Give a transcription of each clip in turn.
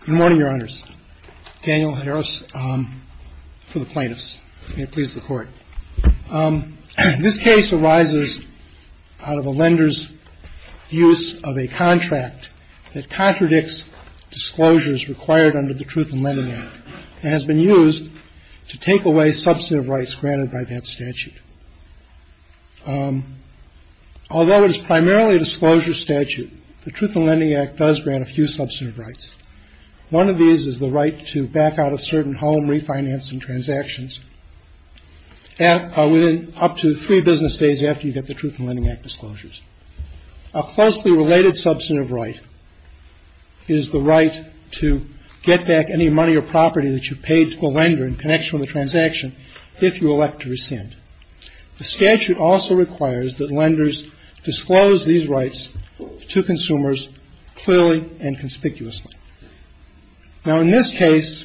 Good morning, Your Honors. Daniel Harris for the plaintiffs. May it please the Court. This case arises out of a lender's use of a contract that contradicts disclosures required under the Truth in Lending Act and has been used to take away substantive rights granted by that statute. Although it is primarily a disclosure statute, the Truth in Lending Act does grant a few substantive rights. One of these is the right to back out of certain home refinancing transactions up to three business days after you get the Truth in Lending Act disclosures. A closely related substantive right is the right to get back any money or property that you paid to the lender in connection with the transaction if you elect to rescind. The statute also requires that lenders disclose these rights to consumers clearly and conspicuously. Now, in this case,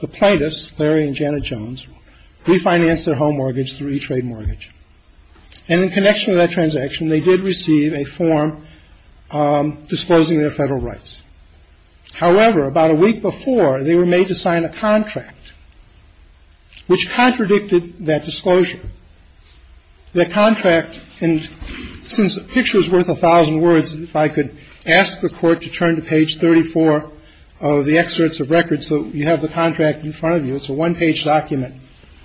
the plaintiffs, Larry and Janet Jones, refinanced their home mortgage through ETRADE MORTGAGE. And in connection with that transaction, they did receive a form disclosing their Federal rights. However, about a week before, they were made to sign a contract which contradicted that disclosure. That contract, and since a picture is worth a thousand words, if I could ask the Court to turn to page 34 of the excerpts of record so you have the contract in front of you, it's a one-page document.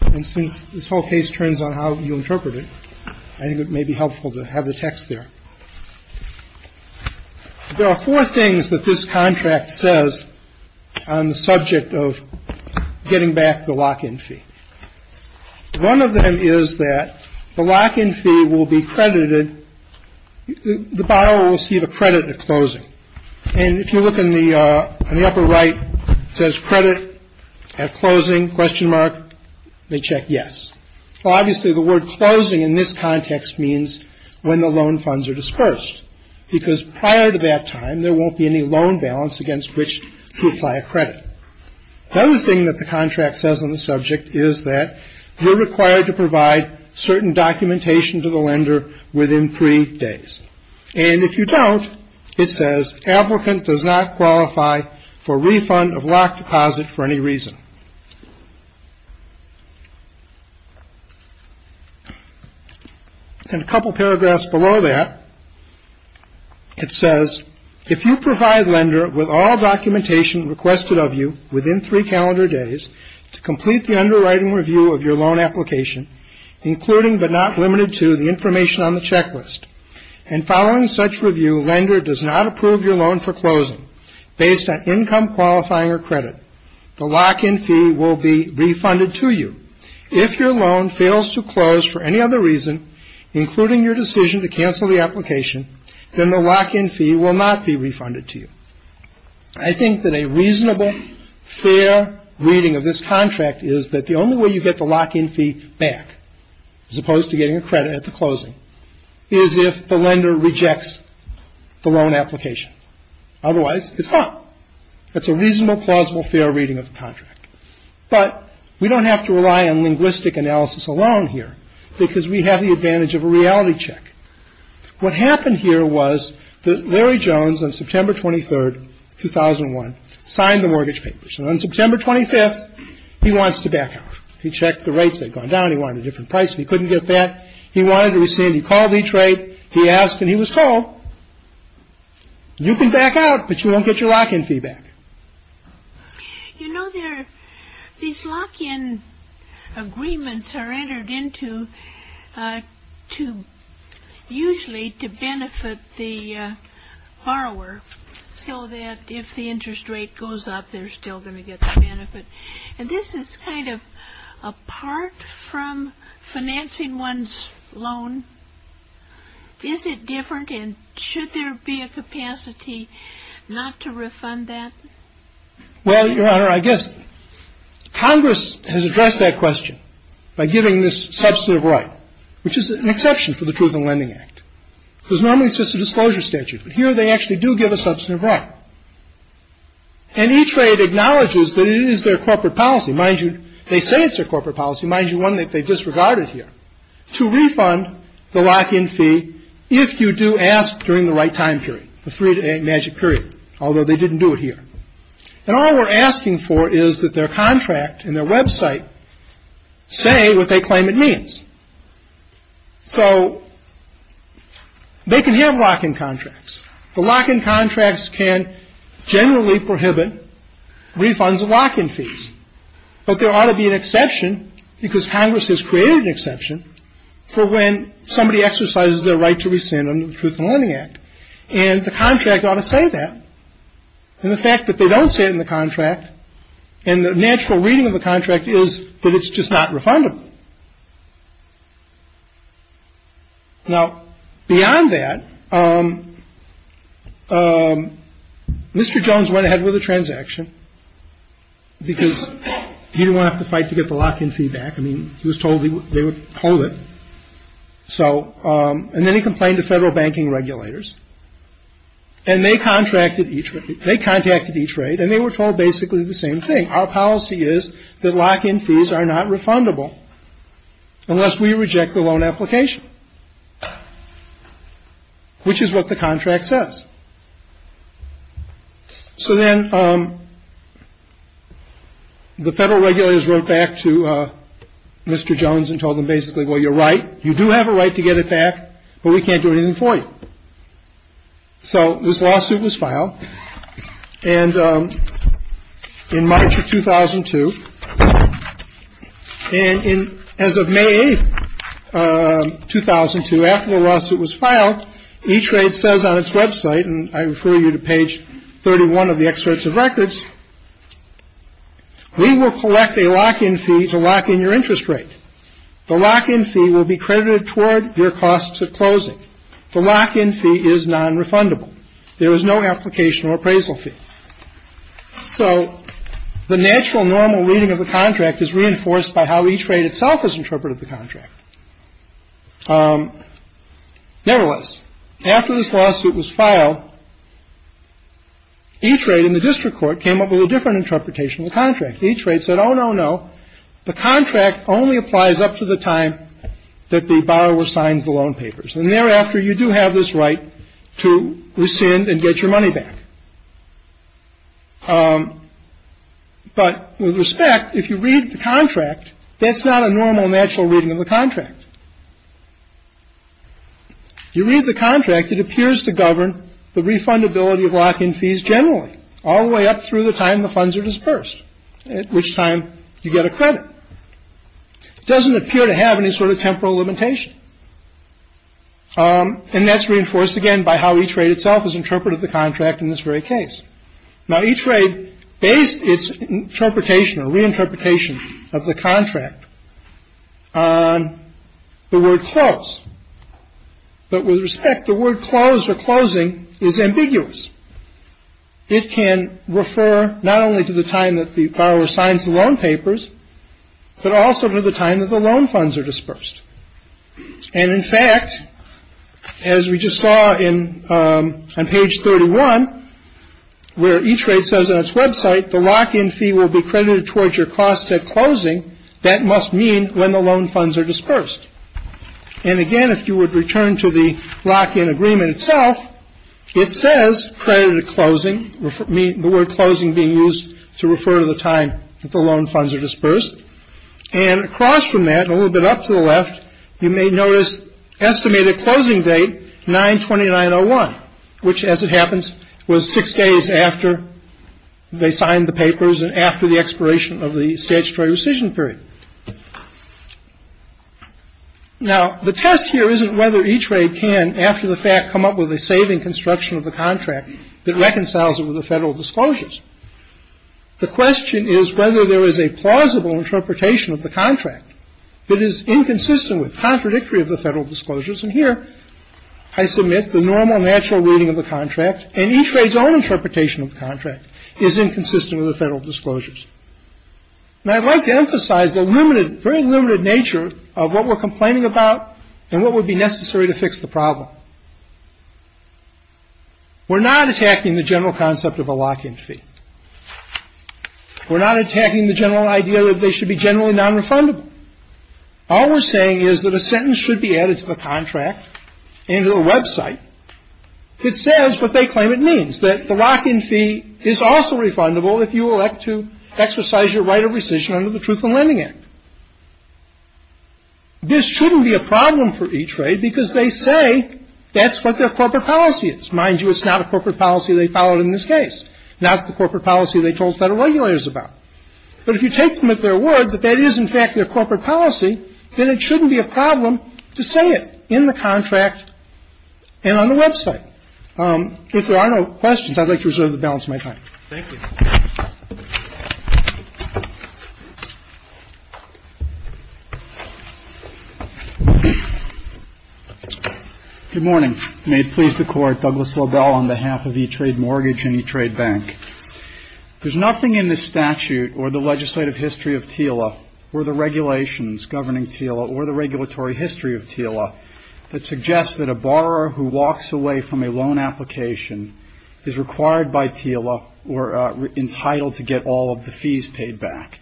And since this whole case turns on how you interpret it, I think it may be helpful to have the text there. There are four things that this contract says on the subject of getting back the lock-in fee. One of them is that the lock-in fee will be credited, the borrower will receive a credit at closing. And if you look on the upper right, it says credit at closing, question mark. They check yes. Well, obviously, the word closing in this context means when the loan funds are dispersed, because prior to that time, there won't be any loan balance against which to apply a credit. The other thing that the contract says on the subject is that you're required to provide certain documentation to the lender within three days. And if you don't, it says applicant does not qualify for refund of lock deposit for any reason. And a couple paragraphs below that, it says, if you provide lender with all documentation requested of you within three calendar days to complete the underwriting review of your loan application, including but not limited to the information on the checklist, and following such review, lender does not approve your loan for closing based on income qualifying or credit, the lock-in fee will be refunded to you. If your loan fails to close for any other reason, including your decision to cancel the application, then the lock-in fee will not be refunded to you. I think that a reasonable, fair reading of this contract is that the only way you get the lock-in fee back, as opposed to getting a credit at the closing, is if the lender rejects the loan application. Otherwise, it's not. That's a reasonable, plausible, fair reading of the contract. But we don't have to rely on linguistic analysis alone here, because we have the advantage of a reality check. What happened here was that Larry Jones, on September 23rd, 2001, signed the mortgage papers. And on September 25th, he wants to back out. He checked the rates. They'd gone down. He wanted a different price, but he couldn't get that. He wanted to rescind. He called each rate. He asked, and he was told, you can back out, but you won't get your lock-in fee back. You know, these lock-in agreements are entered into usually to benefit the borrower, so that if the interest rate goes up, they're still going to get the benefit. And this is kind of apart from financing one's loan. Is it different, and should there be a capacity not to refund that? Well, Your Honor, I guess Congress has addressed that question by giving this substantive right, which is an exception for the Truth in Lending Act, because normally it's just a disclosure statute. But here they actually do give a substantive right. And each rate acknowledges that it is their corporate policy. Mind you, they say it's their corporate policy. Mind you, one that they disregarded here, to refund the lock-in fee if you do ask during the right time period, the three-to-eight magic period, although they didn't do it here. And all we're asking for is that their contract and their website say what they claim it means. So they can have lock-in contracts. The lock-in contracts can generally prohibit refunds of lock-in fees. But there ought to be an exception, because Congress has created an exception, for when somebody exercises their right to rescind under the Truth in Lending Act. And the contract ought to say that. And the fact that they don't say it in the contract and the natural reading of the contract is that it's just not refundable. Now, beyond that, Mr. Jones went ahead with a transaction, because he didn't want to have to fight to get the lock-in fee back. I mean, he was told they would hold it. So and then he complained to federal banking regulators. And they contracted each rate. And they were told basically the same thing. Our policy is that lock-in fees are not refundable unless we reject the loan application, which is what the contract says. So then the federal regulators wrote back to Mr. Jones and told him basically, well, you're right. You do have a right to get it back, but we can't do anything for you. So this lawsuit was filed. And in March of 2002, and as of May 8, 2002, after the lawsuit was filed, E-Trade says on its website, and I refer you to page 31 of the Excerpts of Records, we will collect a lock-in fee to lock in your interest rate. The lock-in fee will be credited toward your costs at closing. The lock-in fee is nonrefundable. There is no application or appraisal fee. So the natural normal reading of the contract is reinforced by how E-Trade itself has interpreted the contract. Nevertheless, after this lawsuit was filed, E-Trade and the district court came up with a different interpretation of the contract. E-Trade said, oh, no, no. The contract only applies up to the time that the borrower signs the loan papers. And thereafter, you do have this right to rescind and get your money back. But with respect, if you read the contract, that's not a normal natural reading of the contract. You read the contract, it appears to govern the refundability of lock-in fees generally, all the way up through the time the funds are dispersed, at which time you get a credit. It doesn't appear to have any sort of temporal limitation. And that's reinforced again by how E-Trade itself has interpreted the contract in this very case. Now, E-Trade based its interpretation or reinterpretation of the contract on the word close. But with respect, the word close or closing is ambiguous. It can refer not only to the time that the borrower signs the loan papers, but also to the time that the loan funds are dispersed. And, in fact, as we just saw on page 31, where E-Trade says on its website, the lock-in fee will be credited towards your cost at closing. And, again, if you would return to the lock-in agreement itself, it says credit at closing, the word closing being used to refer to the time that the loan funds are dispersed. And across from that, a little bit up to the left, you may notice estimated closing date, 9-29-01, which, as it happens, was six days after they signed the papers and after the expiration of the statutory rescission period. Now, the test here isn't whether E-Trade can, after the fact, come up with a saving construction of the contract that reconciles it with the federal disclosures. The question is whether there is a plausible interpretation of the contract that is inconsistent with, contradictory with the federal disclosures. And here, I submit the normal, natural reading of the contract. And E-Trade's own interpretation of the contract is inconsistent with the federal disclosures. Now, I'd like to emphasize the limited, very limited nature of what we're complaining about and what would be necessary to fix the problem. We're not attacking the general concept of a lock-in fee. We're not attacking the general idea that they should be generally nonrefundable. All we're saying is that a sentence should be added to the contract and to the website that says what they claim it means, that the lock-in fee is also refundable if you elect to exercise your right of rescission under the Truth in Lending Act. This shouldn't be a problem for E-Trade because they say that's what their corporate policy is. Mind you, it's not a corporate policy they followed in this case, not the corporate policy they told federal regulators about. But if you take them at their word that that is, in fact, their corporate policy, then it shouldn't be a problem to say it in the contract and on the website. If there are no questions, I'd like to reserve the balance of my time. Thank you. Good morning. May it please the Court, Douglas Lobel on behalf of E-Trade Mortgage and E-Trade Bank. There's nothing in this statute or the legislative history of TILA or the regulations governing TILA or the regulatory history of TILA that suggests that a borrower who walks away from a loan application is required by TILA or entitled to get all of the fees paid back.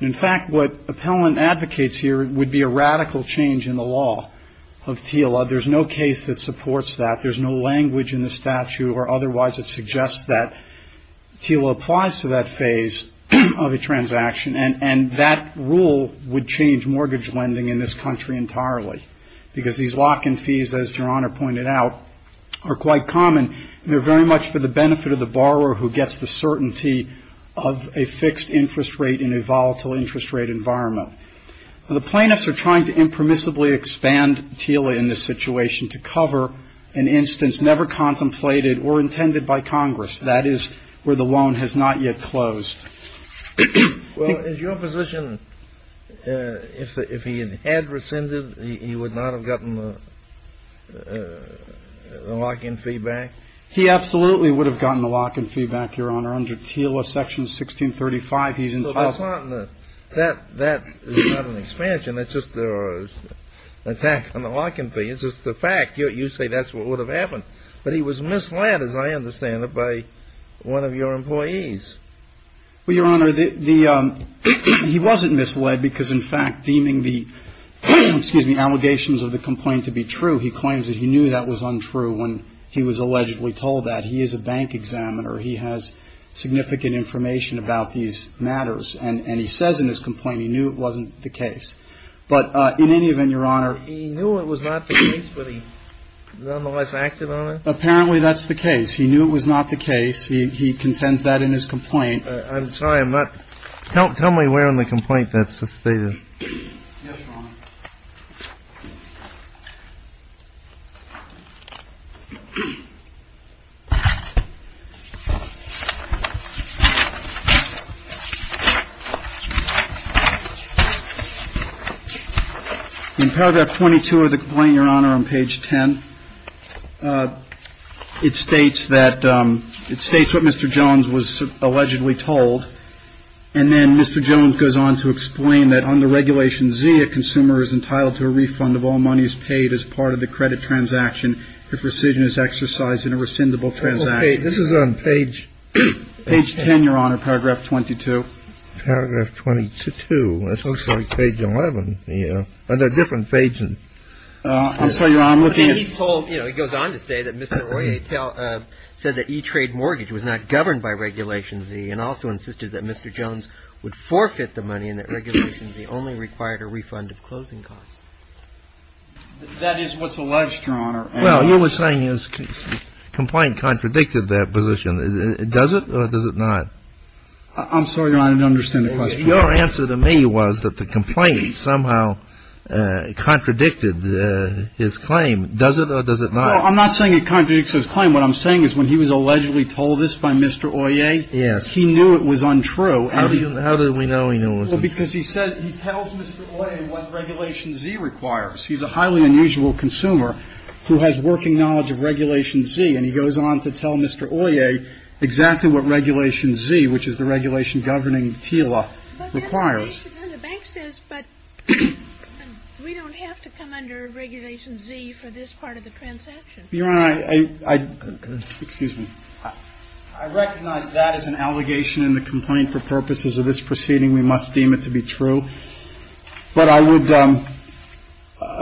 In fact, what Appellant advocates here would be a radical change in the law of TILA. There's no case that supports that. There's no language in the statute or otherwise that suggests that TILA applies to that phase of a transaction. And that rule would change mortgage lending in this country entirely because these lock-in fees, as Your Honor pointed out, are quite common. They're very much for the benefit of the borrower who gets the certainty of a fixed interest rate in a volatile interest rate environment. The plaintiffs are trying to impermissibly expand TILA in this situation to cover an instance never contemplated or intended by Congress. That is where the loan has not yet closed. Well, is your position if he had rescinded, he would not have gotten the lock-in fee back? He absolutely would have gotten the lock-in fee back, Your Honor. Under TILA Section 1635, he's entitled to. So that's not an expansion. That's just an attack on the lock-in fee. It's just a fact. You say that's what would have happened. But he was misled, as I understand it, by one of your employees. Well, Your Honor, he wasn't misled because, in fact, deeming the allegations of the complaint to be true, he claims that he knew that was untrue when he was allegedly told that. He is a bank examiner. He has significant information about these matters. And he says in his complaint he knew it wasn't the case. But in any event, Your Honor. He knew it was not the case, but he nonetheless acted on it? Apparently that's the case. He knew it was not the case. He contends that in his complaint. I'm sorry. I'm not. Tell me where in the complaint that's stated. Yes, Your Honor. In paragraph 22 of the complaint, Your Honor, on page 10. It states that it states what Mr. Jones was allegedly told. And then Mr. Jones goes on to explain that under Regulation Z, a consumer is entitled to a refund of all monies paid as part of the credit transaction if rescission is exercised in a rescindable transaction. This is on page 10, Your Honor. Paragraph 22. Paragraph 22. It looks like page 11. They're different pages. I'll tell you, Your Honor, I'm looking at. He goes on to say that Mr. Royer said that E-Trade mortgage was not governed by Regulation Z and also insisted that Mr. Jones would forfeit the money and that Regulation Z only required a refund of closing costs. That is what's alleged, Your Honor. Well, you were saying his complaint contradicted that position. Does it or does it not? I'm sorry, Your Honor, I don't understand the question. Your answer to me was that the complaint somehow contradicted his claim. Does it or does it not? Well, I'm not saying it contradicts his claim. What I'm saying is when he was allegedly told this by Mr. Royer. Yes. He knew it was untrue. How do we know he knew it was untrue? Well, because he says he tells Mr. Royer what Regulation Z requires. He's a highly unusual consumer who has working knowledge of Regulation Z, and he goes on to tell Mr. Royer exactly what Regulation Z, which is the regulation governing TILA, requires. But then the bank says, but we don't have to come under Regulation Z for this part of the transaction. Your Honor, I — excuse me. I recognize that as an allegation in the complaint. For purposes of this proceeding, we must deem it to be true. But I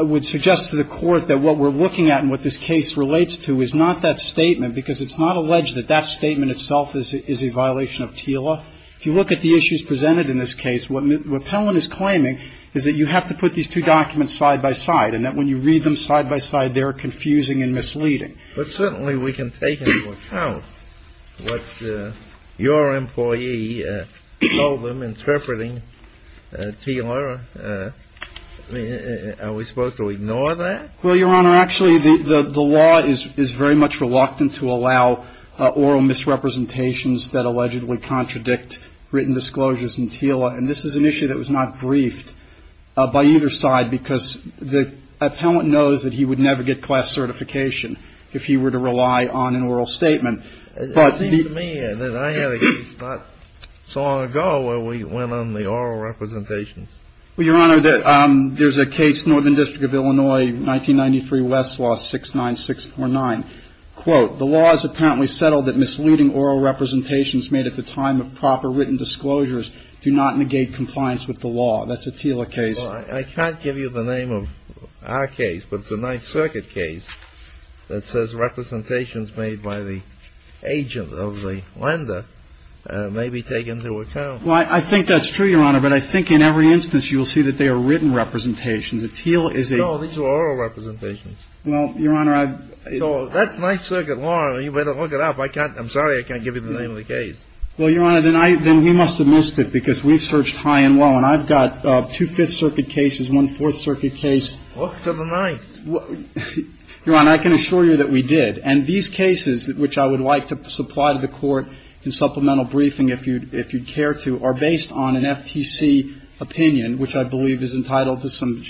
would suggest to the Court that what we're looking at and what this case relates to is not that statement, because it's not alleged that that statement itself is a violation of TILA. If you look at the issues presented in this case, what Pellin is claiming is that you have to put these two documents side by side, and that when you read them side by side, they're confusing and misleading. But certainly we can take into account what your employee told them, interpreting TILA. Are we supposed to ignore that? Well, Your Honor, actually the law is very much reluctant to allow oral misrepresentations that allegedly contradict written disclosures in TILA. And this is an issue that was not briefed by either side, because the appellant knows that he would never get class certification. If he were to rely on an oral statement. It seems to me that I had a case not so long ago where we went on the oral representations. Well, Your Honor, there's a case, Northern District of Illinois, 1993, Westlaw, 69649. Quote, The law is apparently settled that misleading oral representations made at the time of proper written disclosures do not negate compliance with the law. That's a TILA case. Well, I can't give you the name of our case, but it's a Ninth Circuit case that says representations made by the agent of the lender may be taken into account. Well, I think that's true, Your Honor. But I think in every instance you'll see that they are written representations. A TILA is a. No, these are oral representations. Well, Your Honor, I. So that's Ninth Circuit law. You better look it up. I can't. I'm sorry I can't give you the name of the case. Well, Your Honor, then I. Then he must have missed it because we've searched high and low. Well, Your Honor, I've got two Fifth Circuit cases, one Fourth Circuit case. What's the ninth? Your Honor, I can assure you that we did. And these cases, which I would like to supply to the Court in supplemental briefing if you'd care to, are based on an FTC opinion, which I believe is entitled to some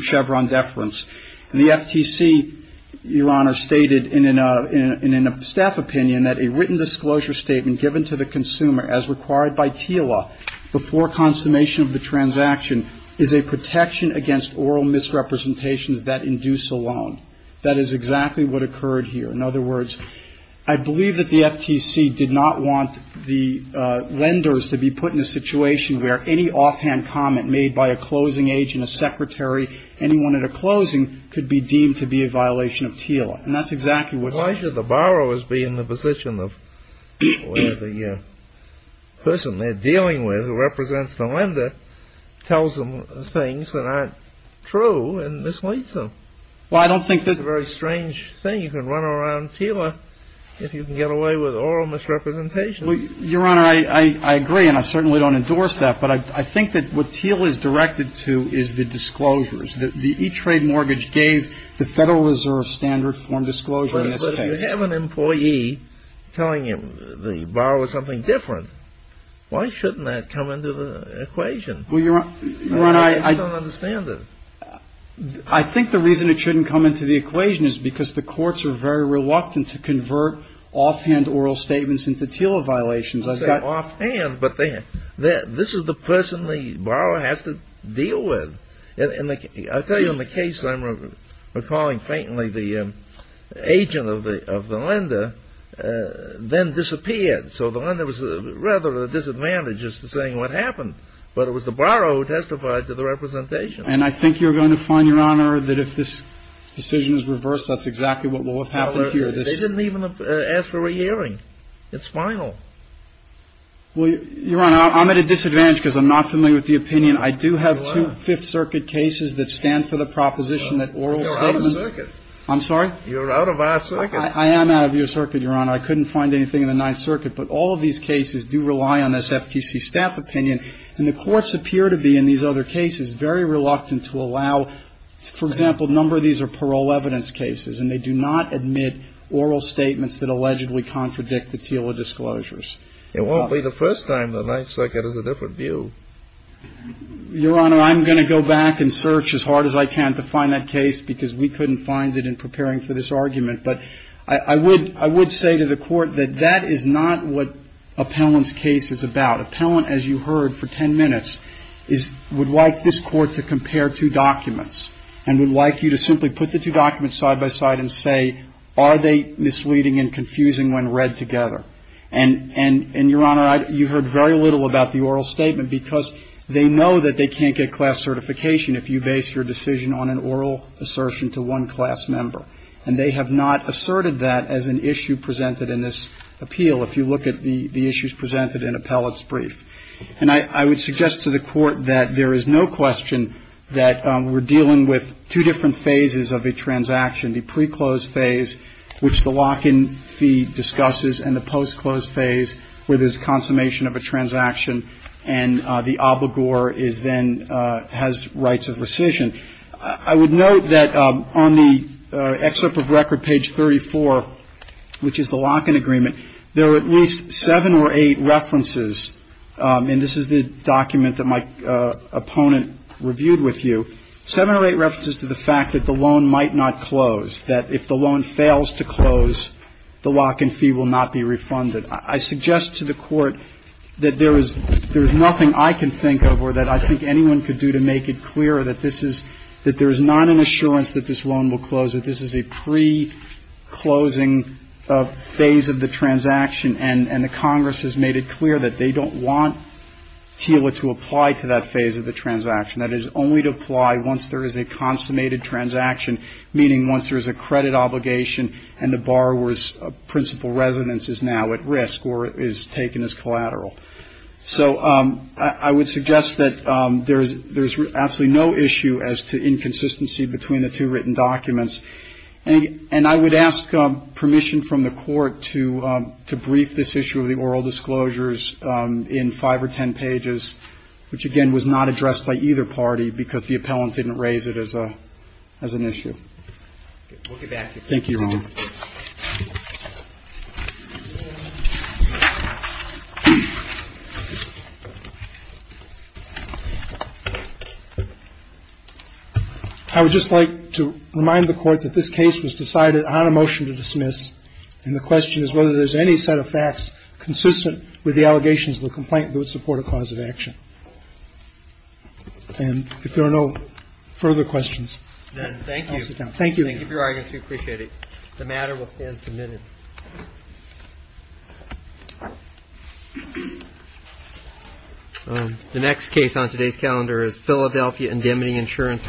Chevron deference. And the FTC, Your Honor, stated in a staff opinion that a written disclosure statement given to the consumer as required by TILA before consummation of the transaction is a protection against oral misrepresentations that induce a loan. That is exactly what occurred here. In other words, I believe that the FTC did not want the lenders to be put in a situation where any offhand comment made by a closing agent, a secretary, anyone at a closing could be deemed to be a violation of TILA. And that's exactly what's. Well, why should the borrowers be in the position of where the person they're dealing with who represents the lender tells them things that aren't true and misleads them? Well, I don't think that. It's a very strange thing. You can run around TILA if you can get away with oral misrepresentations. Well, Your Honor, I agree. And I certainly don't endorse that. But I think that what TILA is directed to is the disclosures. The E-Trade mortgage gave the Federal Reserve standard form disclosure. But if you have an employee telling the borrower something different, why shouldn't that come into the equation? Well, Your Honor, I. I don't understand it. I think the reason it shouldn't come into the equation is because the courts are very reluctant to convert offhand oral statements into TILA violations. I've got. Offhand? But this is the person the borrower has to deal with. And I tell you, in the case I'm recalling faintly, the agent of the lender then disappeared. So the lender was rather at a disadvantage as to saying what happened. But it was the borrower who testified to the representation. And I think you're going to find, Your Honor, that if this decision is reversed, that's exactly what will have happened here. They didn't even ask for a hearing. It's final. Well, Your Honor, I'm at a disadvantage because I'm not familiar with the opinion. I do have two Fifth Circuit cases that stand for the proposition that oral statements. You're out of circuit. I'm sorry? You're out of our circuit. I am out of your circuit, Your Honor. I couldn't find anything in the Ninth Circuit. But all of these cases do rely on this FTC staff opinion. And the courts appear to be in these other cases very reluctant to allow, for example, a number of these are parole evidence cases. And they do not admit oral statements that allegedly contradict the TILA disclosures. It won't be the first time the Ninth Circuit has a different view. Your Honor, I'm going to go back and search as hard as I can to find that case because we couldn't find it in preparing for this argument. But I would say to the Court that that is not what Appellant's case is about. Appellant, as you heard for ten minutes, would like this Court to compare two documents and would like you to simply put the two documents side by side and say, are they misleading and confusing when read together. And, Your Honor, you heard very little about the oral statement because they know that they can't get class certification if you base your decision on an oral assertion to one class member. And they have not asserted that as an issue presented in this appeal, if you look at the issues presented in Appellant's brief. And I would suggest to the Court that there is no question that we're dealing with two different phases of a transaction, the pre-closed phase, which the lock-in fee discusses and the post-closed phase, where there's consummation of a transaction and the obligor then has rights of rescission. I would note that on the excerpt of record, page 34, which is the lock-in agreement, there are at least seven or eight references, and this is the document that my opponent reviewed with you, seven or eight references to the fact that the loan might not close, that if the loan fails to close, the lock-in fee will not be refunded. I suggest to the Court that there is nothing I can think of or that I think anyone could do to make it clear that this is, that there is not an assurance that this loan will close, that this is a pre-closing phase of the transaction. And the Congress has made it clear that they don't want TILA to apply to that phase of the transaction, that it is only to apply once there is a consummated transaction, meaning once there is a credit obligation and the borrower's principal residence is now at risk or is taken as collateral. So I would suggest that there is absolutely no issue as to inconsistency between the two written documents. And I would ask permission from the Court to brief this issue of the oral disclosures in five or ten pages, which, again, was not addressed by either party because the I would just like to remind the Court that this case was decided on a motion to dismiss, and the question is whether there is any set of facts consistent with the allegations of the complaint that would support a cause of action. And if there are no further questions, I'll stop there. Thank you. Thank you for your time. Thank you. Thank you for your arguments. We appreciate it. The matter will stand submitted. The next case on today's calendar is Philadelphia Indemnity Insurance.